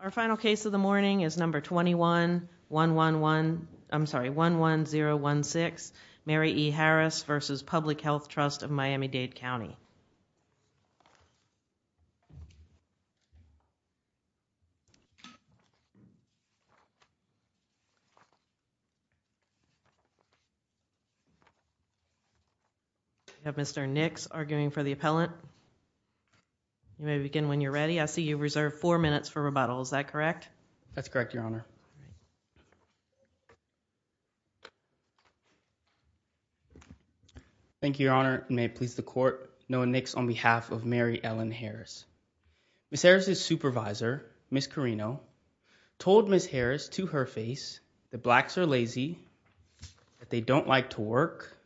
Our final case of the morning is number 21-11016, Mary E. Harris v. Public Health Trust of Miami-Dade You may begin when you're ready. I see you reserved four minutes for rebuttal. Is that correct? That's correct, your honor. Thank you, your honor. May it please the court. Noah Nix on behalf of Mary Ellen Harris. Ms. Harris's supervisor, Ms. Carino, told Ms. Harris to her face that blacks are lazy, that they don't like to work,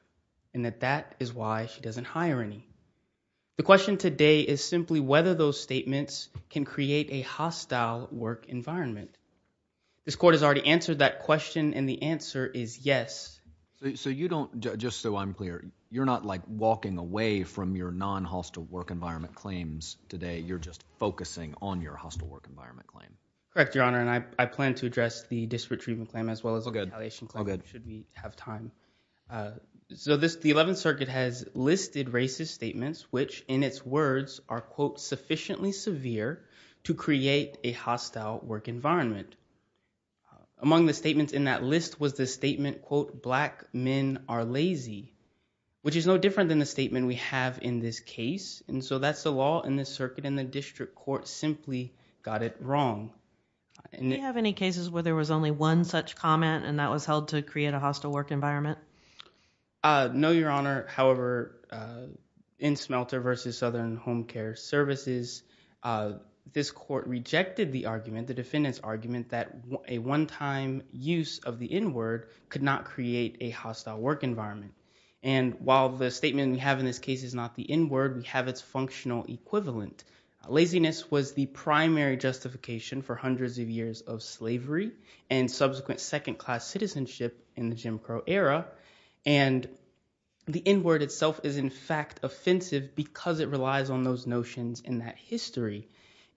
and that that is why she doesn't hire any. The question today is simply whether those statements can create a hostile work environment. This court has already answered that question and the answer is yes. So you don't, just so I'm clear, you're not like walking away from your non-hostile work environment claims today. You're just focusing on your hostile work environment claim. Correct, your honor, and I plan to address the disparate treatment claim as well as the retaliation should we have time. So this, the 11th circuit has listed racist statements which in its words are quote sufficiently severe to create a hostile work environment. Among the statements in that list was the statement quote black men are lazy, which is no different than the statement we have in this case and so that's the law in this circuit and the district court simply got it wrong. Do you have any cases where there was only one such comment and that was held to create a hostile work environment? No, your honor. However, in Smelter versus Southern Home Care Services, this court rejected the argument, the defendant's argument that a one-time use of the n-word could not create a hostile work environment and while the statement we have in this case is the n-word, we have its functional equivalent. Laziness was the primary justification for hundreds of years of slavery and subsequent second-class citizenship in the Jim Crow era and the n-word itself is in fact offensive because it relies on those notions in that history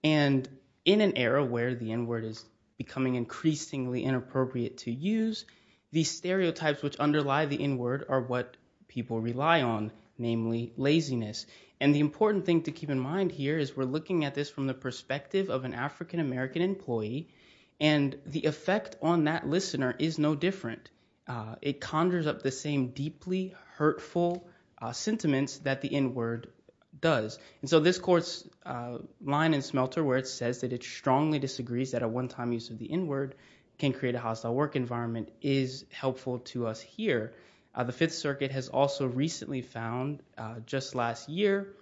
and in an era where the n-word is becoming increasingly inappropriate to use, these stereotypes which underlie the n-word are what people rely on, namely laziness and the important thing to keep in mind here is we're looking at this from the perspective of an African-American employee and the effect on that listener is no different. It conjures up the same deeply hurtful sentiments that the n-word does and so this court's line in Smelter where it says that it strongly disagrees that a one-time use of the n-word can create a hostile work environment is helpful to us here. The Fifth Circuit has also recently found just last year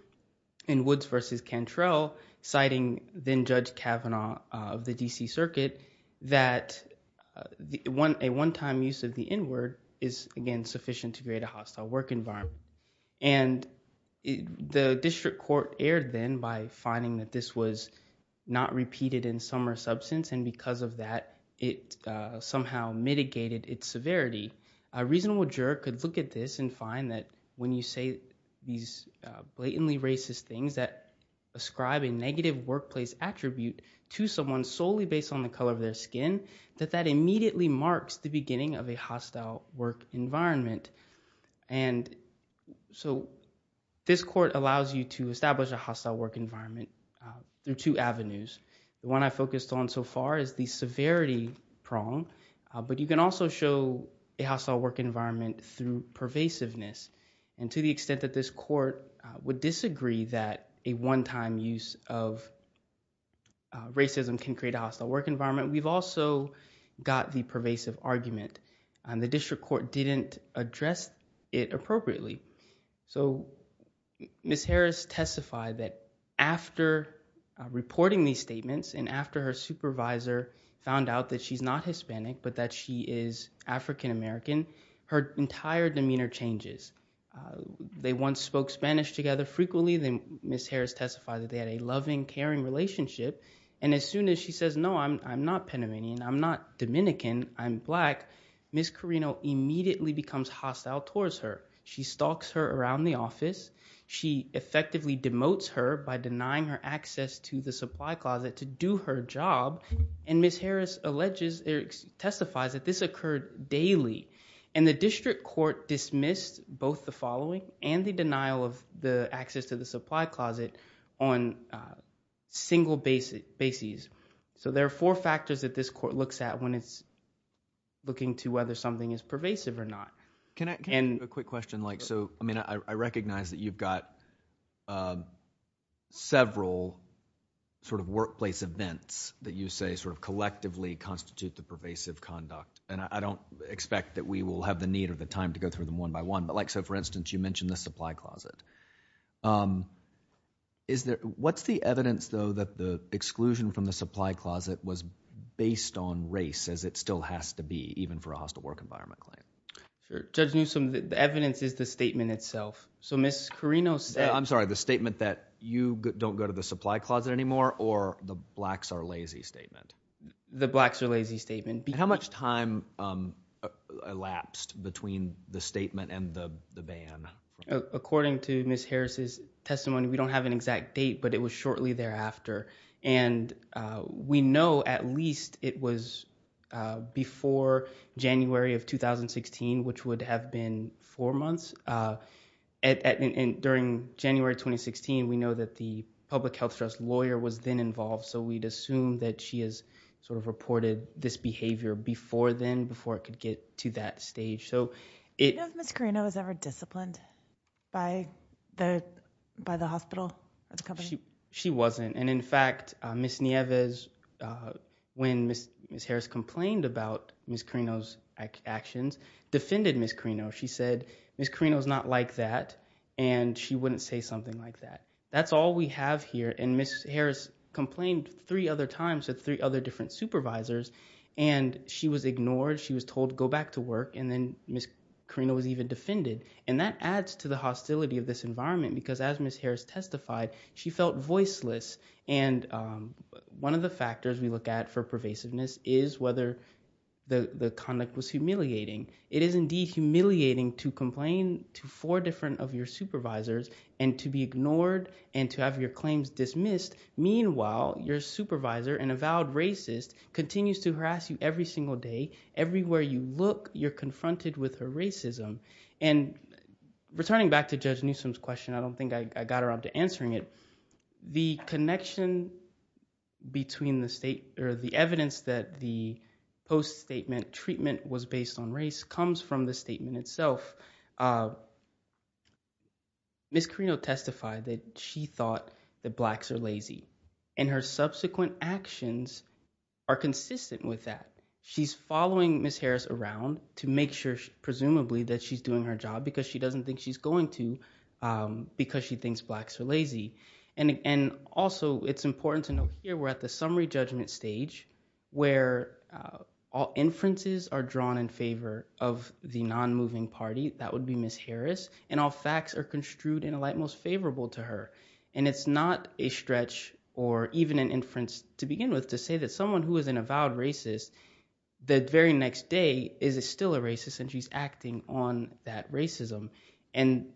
in Woods v. Cantrell citing then Judge Kavanaugh of the D.C. Circuit that a one-time use of the n-word is again sufficient to create a hostile work environment and the district court erred then by finding that this was not repeated in summer substance and because of that it somehow mitigated its severity. A reasonable juror could look at this and find that when you say these blatantly racist things that ascribe a negative workplace attribute to someone solely based on the color of their skin that that immediately marks the beginning of a hostile work environment and so this court allows you to establish a hostile work environment through two avenues. The one I focused on so far is the severity prong but you can also show a hostile work environment through pervasiveness and to the extent that this court would disagree that a one-time use of racism can create a hostile work environment we've also got the pervasive argument and the it appropriately. So Ms. Harris testified that after reporting these statements and after her supervisor found out that she's not Hispanic but that she is African-American her entire demeanor changes. They once spoke Spanish together frequently then Ms. Harris testified that they had a loving caring relationship and as soon as she says no I'm not Panamanian, I'm not Dominican, I'm Black, Ms. Carino immediately becomes hostile towards her. She stalks her around the office, she effectively demotes her by denying her access to the supply closet to do her job and Ms. Harris alleges or testifies that this occurred daily and the district court dismissed both the following and the denial of the access to the supply closet on single bases. So there looking to whether something is pervasive or not. Can I can a quick question like so I mean I recognize that you've got several sort of workplace events that you say sort of collectively constitute the pervasive conduct and I don't expect that we will have the need or the time to go through them one by one but like so for instance you mentioned the supply closet. Is there what's the evidence though that the exclusion from the supply closet was based on race as it still has to be even for a hostile work environment claim? Judge Newsome the evidence is the statement itself. So Ms. Carino said. I'm sorry the statement that you don't go to the supply closet anymore or the blacks are lazy statement? The blacks are lazy statement. How much time elapsed between the statement and the the ban? According to Ms. Harris's testimony we don't have an exact date but it was shortly thereafter and we know at least it was before January of 2016 which would have been four months. During January 2016 we know that the public health trust lawyer was then involved so we'd assume that she has sort of reported this behavior before then before it could get to that stage. Do you know if Ms. Carino was ever disciplined by the hospital? She wasn't and in fact Ms. Nieves when Ms. Harris complained about Ms. Carino's actions defended Ms. Carino. She said Ms. Carino's not like that and she wouldn't say something like that. That's all we have here and Ms. Harris complained three other times to three other different supervisors and she was ignored. She was told go back to work and then Ms. Carino was even defended and that adds to the hostility of this environment because as Ms. Harris testified she felt voiceless and one of the factors we look at for pervasiveness is whether the the conduct was humiliating. It is indeed humiliating to complain to four different of your supervisors and to be ignored and to have your claims dismissed. Meanwhile your supervisor, an avowed racist, continues to harass you every single day. Everywhere you look you're confronted with her racism and returning back to Judge Newsom's question I don't think I got around to answering it. The connection between the state or the evidence that the post-statement treatment was based on race comes from the statement itself. Ms. Carino testified that she thought that blacks are lazy and her subsequent actions are consistent with that. She's following Ms. Harris around to make sure presumably that she's doing her job because she doesn't think she's going to because she thinks blacks are lazy and also it's important to note here we're at the summary judgment stage where all inferences are drawn in favor of the non-moving party that would be Ms. Harris and all facts are construed in a light most favorable to her and it's not a stretch or even an inference to begin with to say that someone who is an avowed racist the very next day is still a racist and she's acting on that racism and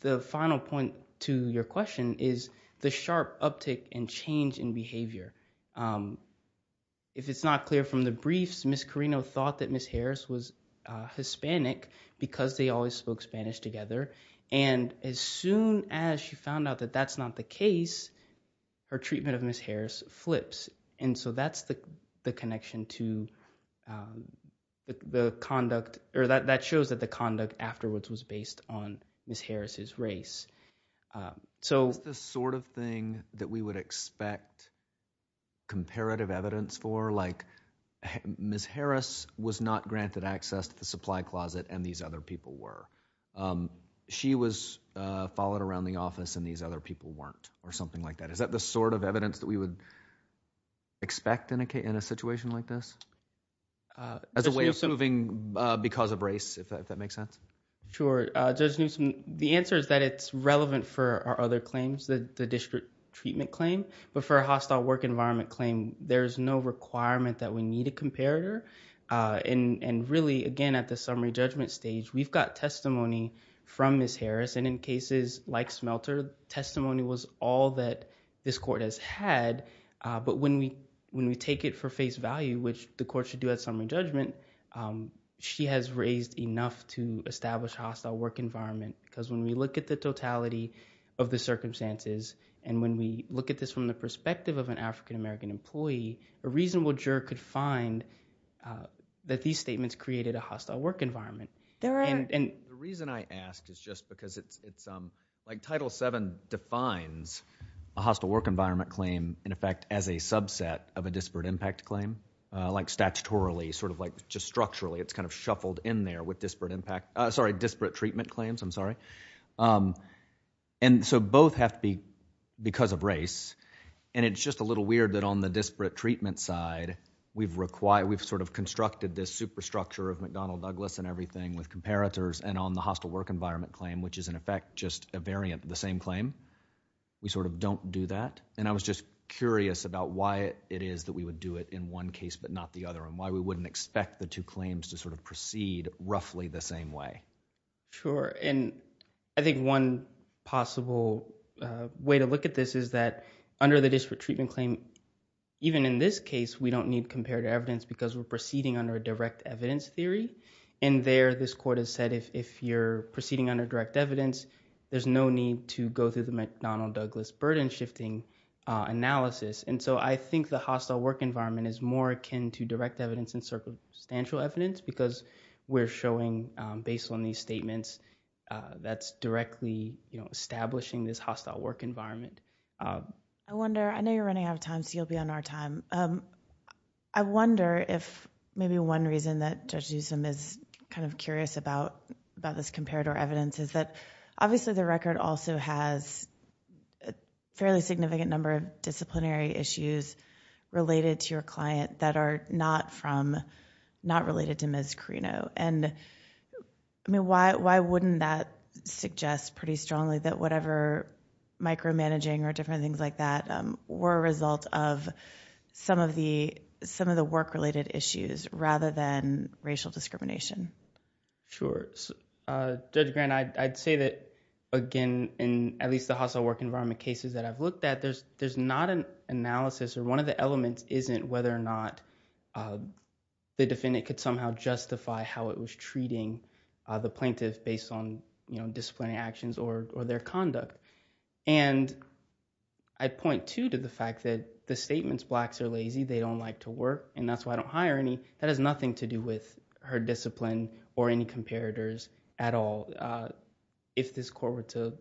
the final point to your question is the sharp uptick and change in behavior. If it's not clear from the briefs Ms. Carino thought that Ms. Harris was Hispanic because they always spoke Spanish together and as soon as she found out that that's not the case her treatment of Ms. Harris flips and so that's the connection to the conduct or that shows that the conduct afterwards was based on Ms. Harris's race. So the sort of thing that we would expect comparative evidence for like Ms. Harris was not granted access to the supply closet and these other people were. She was followed around the office and these other people weren't or something like that. Is that the sort of evidence that we would expect in a situation like this as a way of moving because of race if that makes sense? Sure, Judge Newsom, the answer is that it's relevant for our other claims the district treatment claim but for a hostile work environment claim there's no requirement that we need a comparator and really again at the summary judgment stage we've got testimony from Ms. Harris and in cases like Smelter testimony was all that this court has had but when we take it for face value which the court should do at summary judgment she has raised enough to establish a hostile work environment because when we look at the totality of the circumstances and when we look at this from the perspective of an African-American employee a reasonable juror could find that these statements created a hostile work environment. The reason I ask is just because it's like Title VII defines a hostile work environment claim in effect as a subset of a disparate impact claim like statutorily sort of like just structurally it's kind of shuffled in there with disparate impact sorry disparate treatment claims I'm sorry and so both have to be because of race and it's just a little weird that on the disparate treatment side we've required we've sort of constructed this superstructure of McDonnell Douglas and everything with comparators and on the hostile work environment claim which is in effect just a variant of the same claim we sort of don't do that and I was just curious about why it is that we would do it in one case but not the other and why we wouldn't expect the two claims to sort of proceed roughly the same way. Sure and I think one possible way to look at this is that under the disparate treatment claim even in this case we don't need comparative evidence because we're proceeding under a direct evidence theory and there this court has said if you're there's no need to go through the McDonnell Douglas burden shifting analysis and so I think the hostile work environment is more akin to direct evidence and circumstantial evidence because we're showing based on these statements that's directly you know establishing this hostile work environment. I wonder I know you're running out of time so you'll be on our time I wonder if maybe one reason that Judge Newsom is kind of curious about about this comparator evidence is that obviously the record also has a fairly significant number of disciplinary issues related to your client that are not from not related to Ms. Carino and I mean why wouldn't that suggest pretty strongly that whatever micromanaging or different things like that were a result of some of the some of the work related issues rather than racial discrimination? Sure Judge Grant I'd say that again in at least the hostile work environment cases that I've looked at there's there's not an analysis or one of the elements isn't whether or not the defendant could somehow justify how it was treating the plaintiff based on you know to the fact that the statements blacks are lazy they don't like to work and that's why I don't hire any that has nothing to do with her discipline or any comparators at all if this court were to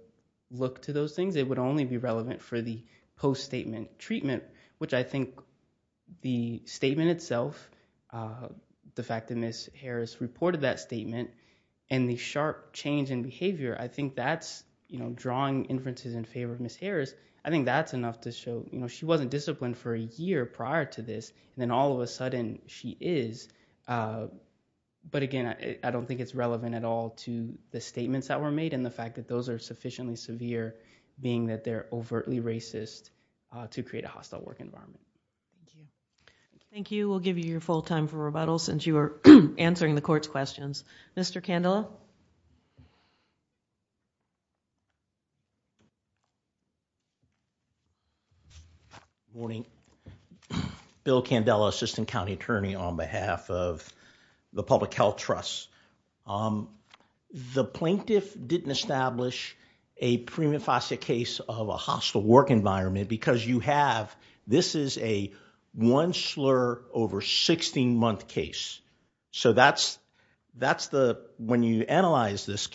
look to those things it would only be relevant for the post-statement treatment which I think the statement itself the fact that Ms. Harris reported that statement and the sharp change in behavior I think that's you know drawing inferences in favor of Ms. Harris I think that's enough to show you know she wasn't disciplined for a year prior to this and then all of a sudden she is but again I don't think it's relevant at all to the statements that were made and the fact that those are sufficiently severe being that they're overtly racist to create a hostile work environment. Thank you we'll give you your full time for rebuttal since you are answering the morning bill candela assistant county attorney on behalf of the public health trust the plaintiff didn't establish a prima facie case of a hostile work environment because you have this is a one slur over 16 month case so that's that's the when you analyze this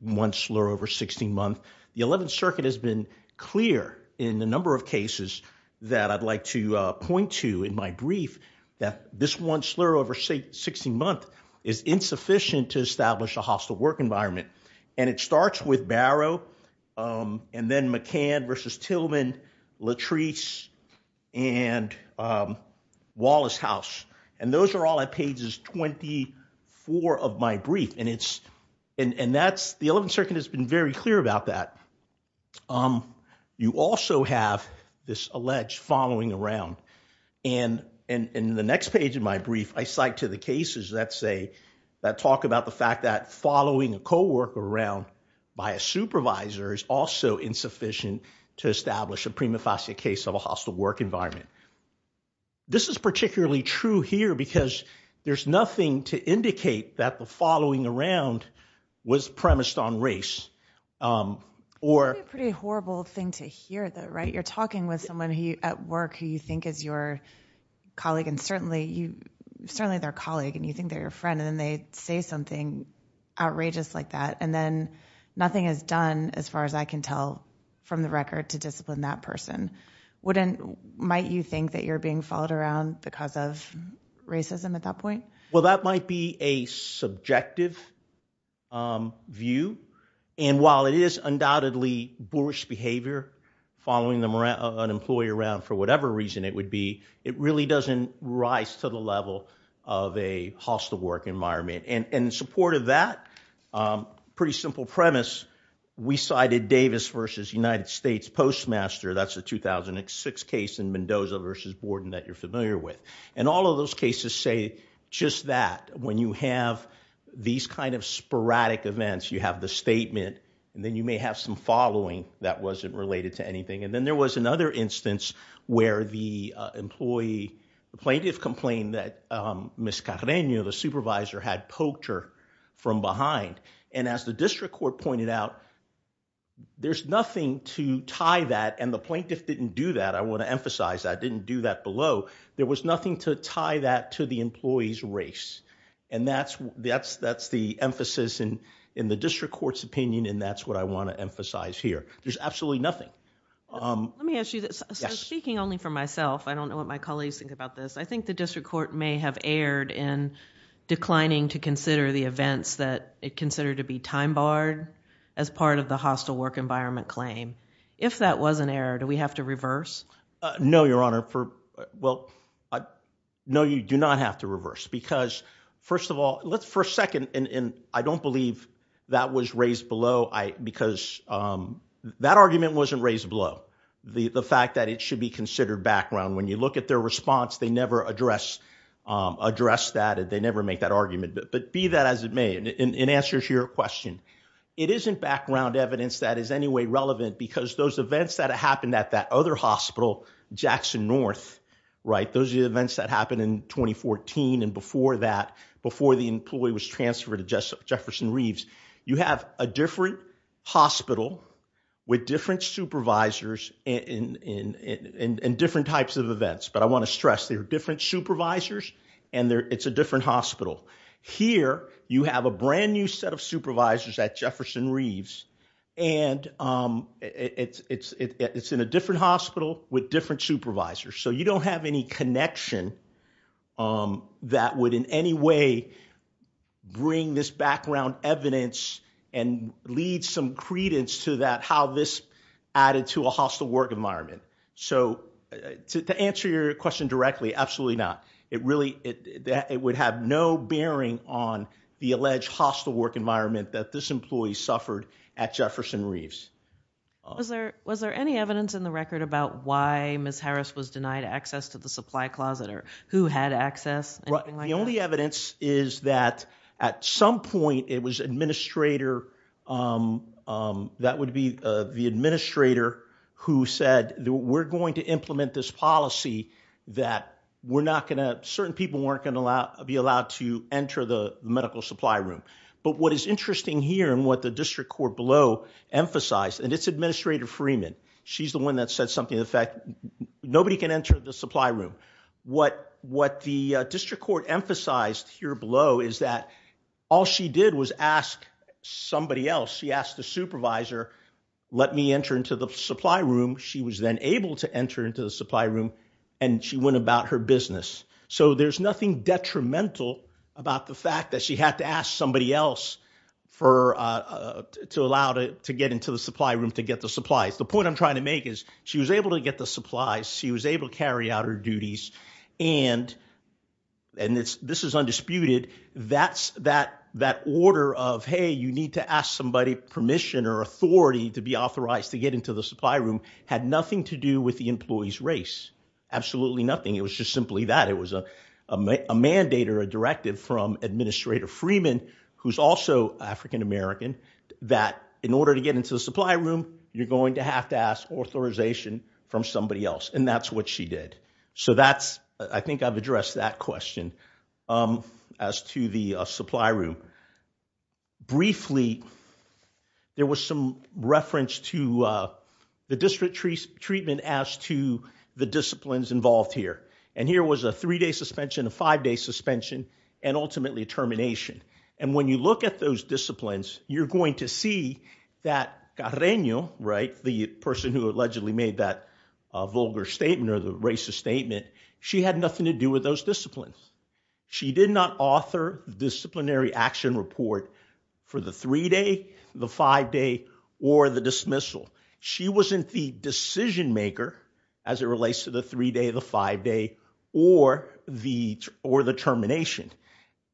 one slur over 16 month the 11th circuit has been clear in the number of cases that I'd like to point to in my brief that this one slur over 16 month is insufficient to establish a hostile work environment and it starts with Barrow and then McCann versus Tillman Latrice and Wallace house and those are all at pages 24 of my brief and it's and that's the 11th circuit has been very clear about that you also have this alleged following around and in the next page in my brief I cite to the cases that say that talk about the fact that following a co-worker around by a supervisor is also insufficient to establish a prima facie case of a hostile work environment this is particularly true here because there's nothing to indicate that the following around was premised on race or a pretty horrible thing to hear though right you're talking with someone who at work who you think is your colleague and certainly you certainly their colleague and you think they're your friend and then they say something outrageous like that and then nothing is done as far as I can tell from the record to discipline that person wouldn't might you think that you're being followed around because of racism at that point well that might be a subjective view and while it is undoubtedly boorish behavior following them around an employee around for whatever reason it would be it really doesn't rise to the level of a hostile work environment and in support of that pretty simple premise we cited Davis versus United States Postmaster that's a 2006 case in Mendoza versus Borden that you're familiar with and all of those cases say just that when you have these kind of sporadic events you have the statement and then you may have some following that wasn't related to anything and then there was another instance where the employee the plaintiff complained that Ms. Carreño the supervisor had poacher from behind and as the district court pointed out there's nothing to tie that and the plaintiff didn't do that I want to emphasize that didn't do that below there was nothing to tie that to the employee's race and that's that's that's the emphasis in in the district court's opinion and that's what I want to emphasize here there's absolutely nothing. Let me ask you this speaking only for myself I don't know what my colleagues think about this I think the district court may have erred in declining to consider the events that it considered to be time barred as part of the hostile work environment claim if that was an error do we have to reverse? No your honor for well I know you do not have to reverse because first of all let's for a second and and I don't believe that was raised below I because that argument wasn't raised below the the fact that it should be considered background when you look at their response they never address address that they never make that argument but be that as it may in answer to your question it isn't background evidence that is any way relevant because those events that happened at that other hospital Jackson North right those events that happened in 2014 and before that before the employee was transferred to just Jefferson Reeves you have a different hospital with different supervisors in in in in different types of events but I want to stress they're different supervisors and they're it's a different hospital here you have a brand new set of supervisors at Jefferson Reeves and it's it's it's in a different hospital with different supervisors so you don't have any connection that would in any way bring this background evidence and lead some credence to that how this added to a hostile work environment so to answer your question directly absolutely not it really it that it would have no bearing on the alleged hostile work environment that this employee suffered at Jefferson Reeves was there was there any evidence in the record about why Ms. Harris was denied access to the supply closet or who had access the only evidence is that at some point it was administrator that would be the administrator who said we're going to implement this policy that we're not going to certain people weren't going to allow be allowed to enter the medical supply room but what is interesting here and what the district court below emphasized and it's Administrator Freeman she's the one that said something the fact nobody can enter the supply room what what the district court emphasized here below is that all she did was ask somebody else she asked the supervisor let me enter into the supply room she was then able to enter into the supply room and she went about her business so there's nothing detrimental about the fact that she had to ask somebody else for to allow to get into the supply room to get the supplies the point I'm trying to make is she was able to get the supplies she was able to carry out her duties and and it's this is undisputed that's that that order of hey you need to ask somebody permission or authority to be authorized to get into the supply room had nothing to do with the employee's race absolutely nothing it was just simply that it was a a mandate or a directive from Administrator Freeman who's also african-american that in order to get into the supply room you're going to have to ask authorization from somebody else and that's what she did so that's I think I've addressed that question um as to the supply room briefly there was some reference to uh the district treatment as to the disciplines involved here and here was a three-day suspension a five-day suspension and ultimately a termination and when you look at those disciplines you're going to see that Carreno right the person who allegedly made that vulgar statement or the racist statement she had nothing to do with those disciplines she did not author the disciplinary action report for the three-day the five-day or the dismissal she wasn't the decision maker as it relates to the three-day the five-day or the or the termination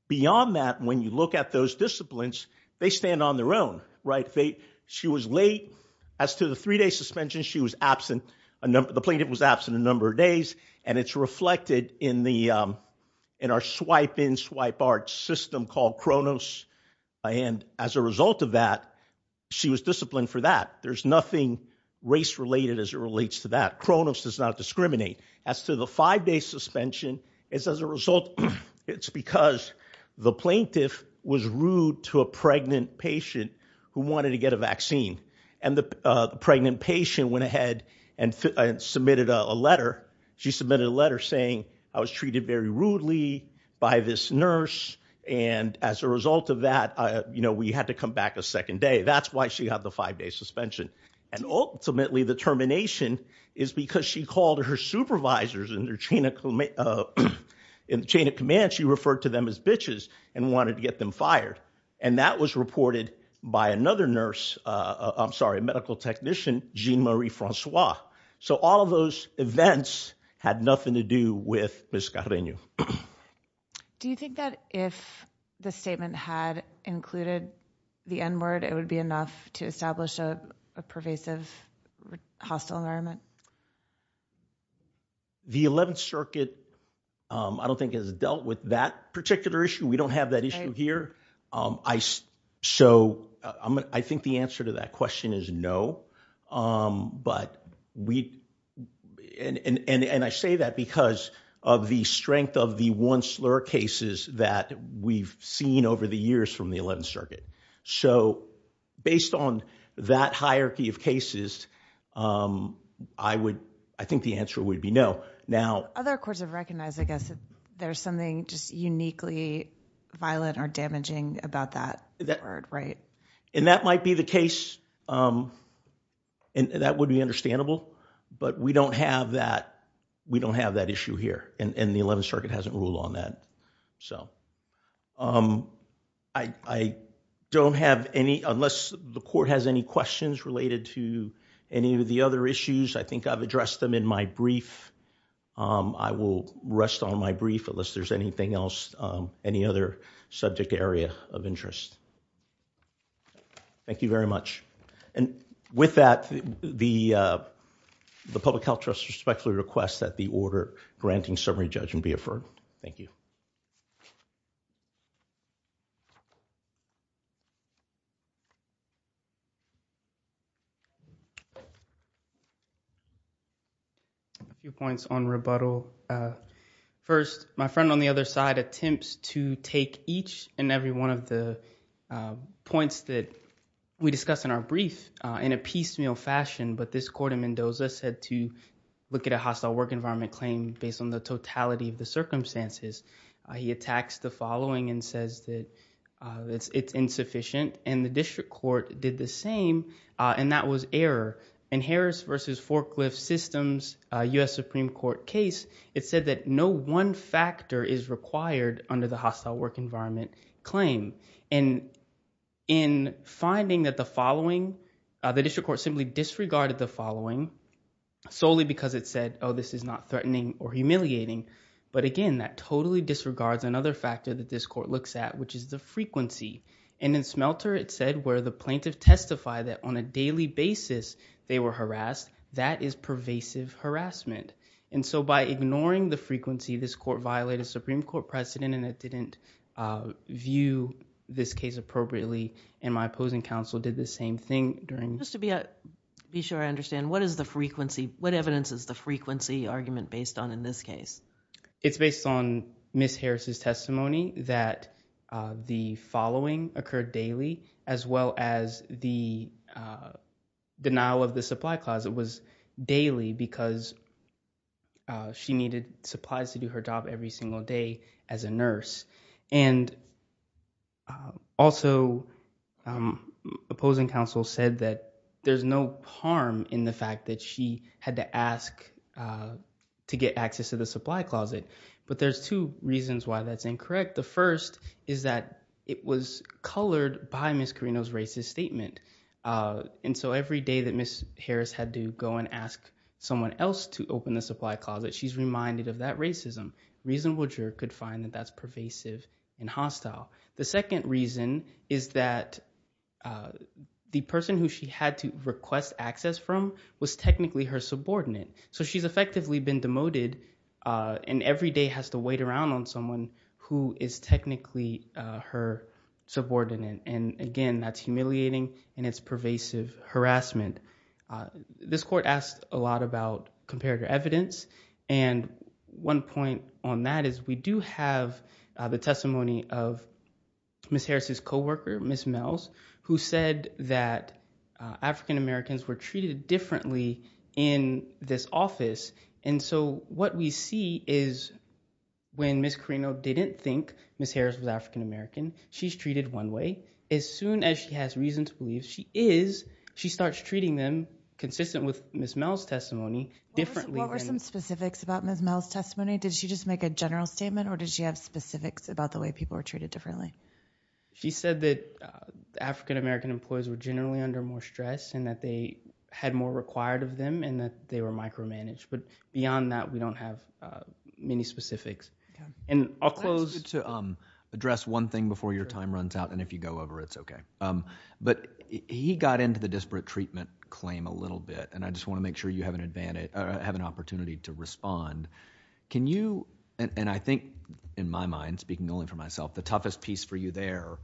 beyond that when you look at those disciplines they stand on their own right they she was late as to the three-day suspension she was absent a number the plaintiff was absent a number of days and it's reflected in the um in our swipe in swipe art system called Cronos and as a result of that she was disciplined for that there's nothing race related as it relates to that Cronos does not discriminate as to the five-day suspension it's as a result it's because the plaintiff was rude to a pregnant patient who wanted to get a vaccine and the uh pregnant patient went ahead and submitted a letter she submitted a letter saying I was treated very rudely by this nurse and as a result of that I you know we had to come back a second day that's why she had the five-day suspension and ultimately the termination is because she called her supervisors in their chain of command in the chain of command she referred to them as bitches and wanted to get them fired and that was reported by another nurse uh I'm with Ms. Carreño. Do you think that if the statement had included the n-word it would be enough to establish a pervasive hostile environment? The 11th circuit um I don't think has dealt with that particular issue we don't have that issue here um I so I'm I think the answer to that of the strength of the one slur cases that we've seen over the years from the 11th circuit so based on that hierarchy of cases um I would I think the answer would be no now other courts have recognized I guess there's something just uniquely violent or damaging about that that word right and that might be the case um and that would be understandable but we don't have that we don't have that issue here and the 11th circuit hasn't ruled on that so um I don't have any unless the court has any questions related to any of the other issues I think I've addressed them in my brief um I will rest on my brief unless there's anything else um any other subject area of request that the order granting summary judge and be affirmed thank you a few points on rebuttal uh first my friend on the other side attempts to take each and every one of the uh points that we discussed in our brief uh in a piecemeal fashion but this court said to look at a hostile work environment claim based on the totality of the circumstances he attacks the following and says that uh it's it's insufficient and the district court did the same uh and that was error and harris versus forklift systems uh u.s supreme court case it said that no one factor is required under the hostile work environment claim and in finding that the following uh the district court simply disregarded the following solely because it said oh this is not threatening or humiliating but again that totally disregards another factor that this court looks at which is the frequency and in smelter it said where the plaintiff testify that on a daily basis they were harassed that is pervasive harassment and so by ignoring the frequency this court violated supreme court precedent and it didn't uh view this case appropriately and my opposing counsel did the same thing during just to be a be sure i understand what is the frequency what evidence is the frequency argument based on in this case it's based on miss harris's testimony that uh the following occurred daily as well as the uh denial of the supply closet was daily because uh she needed supplies to do her job every single day as a nurse and uh also um opposing counsel said that there's no harm in the fact that she had to ask uh to get access to the supply closet but there's two reasons why that's incorrect the first is that it was colored by miss carino's racist statement uh and so every day that miss harris had to go and ask someone else to open the supply closet she's reminded of that racism reasonable could find that that's pervasive and hostile the second reason is that uh the person who she had to request access from was technically her subordinate so she's effectively been demoted uh and every day has to wait around on someone who is technically uh her subordinate and again that's humiliating and it's pervasive harassment this court asked a lot about comparative evidence and one point on that is we do have uh the testimony of miss harris's co-worker miss mels who said that african-americans were treated differently in this office and so what we see is when miss carino didn't think miss harris was african-american she's treated one way as soon as she has reason to believe she is she starts treating them consistent with miss mel's testimony differently some specifics about miss mel's testimony did she just make a general statement or did she have specifics about the way people are treated differently she said that african-american employees were generally under more stress and that they had more required of them and that they were micromanaged but beyond that we don't have uh many specifics and i'll close to um address one thing before your time runs out and if you go over it's okay um but he got into the disparate treatment claim a little bit and i just want to make sure you have an advantage or have an opportunity to respond can you and i think in my mind speaking only for myself the toughest piece for you there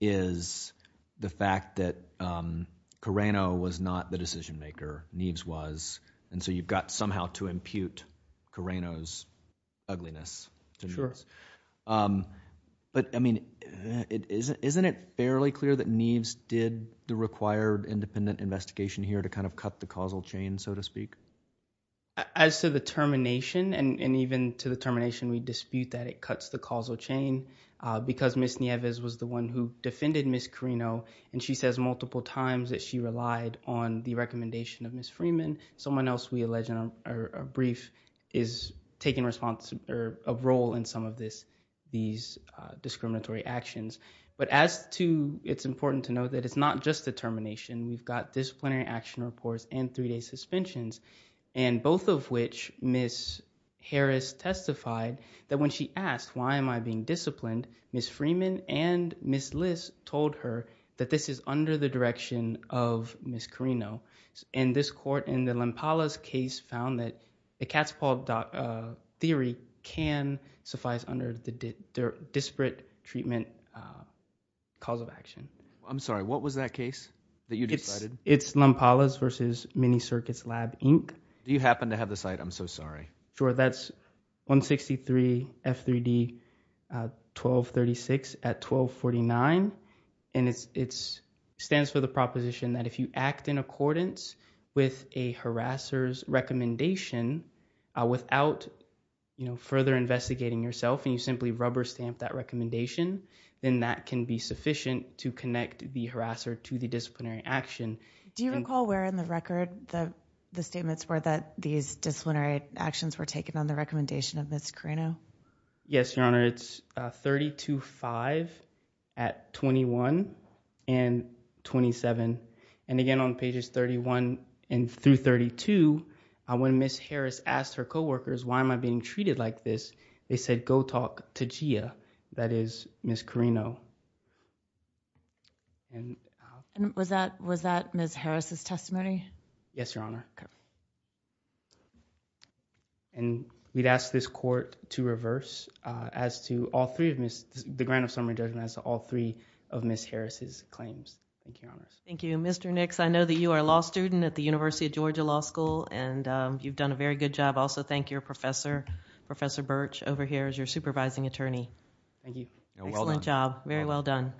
is the fact that um carino was not the decision maker neves was and so you've got somehow to impute carino's ugliness sure um but i mean it isn't isn't it fairly clear that neves did the required independent investigation here to kind of cut the causal chain so to speak as to the termination and and even to the termination we dispute that it cuts the causal chain uh because miss nieves was the one who defended miss carino and she says multiple times that she relied on the recommendation of miss freeman someone else we allege in a brief is taking response or a role in some of this these uh discriminatory actions but as to it's important to know that it's not just determination we've got disciplinary action reports and three-day suspensions and both of which miss harris testified that when she asked why am i being disciplined miss freeman and miss liss told her that this is under the direction of miss carino and this court in the lampala's case found that the cat's paw theory can suffice under the disparate treatment uh cause of action i'm sorry what was that case that you decided it's lump alice versus mini circuits lab inc do you happen to have the site i'm so sorry sure that's 163 f3d 1236 at 1249 and it's it's stands for the proposition that if you act in accordance with a harasser's recommendation uh without you know further investigating yourself and simply rubber stamp that recommendation then that can be sufficient to connect the harasser to the disciplinary action do you recall where in the record the the statements were that these disciplinary actions were taken on the recommendation of miss carino yes your honor it's uh 32 5 at 21 and 27 and again on pages 31 and through 32 when miss harris asked her co-workers why am i being treated like this they said go talk to gia that is miss carino and was that was that miss harris's testimony yes your honor and we'd ask this court to reverse uh as to all three of miss the grand of summary judgment as all three of miss harris's claims thank you thank you mr nix i know that you are a law student at the university of georgia law school and um you've done a very good job also thank your professor professor birch over here is your supervising attorney thank you excellent job very well done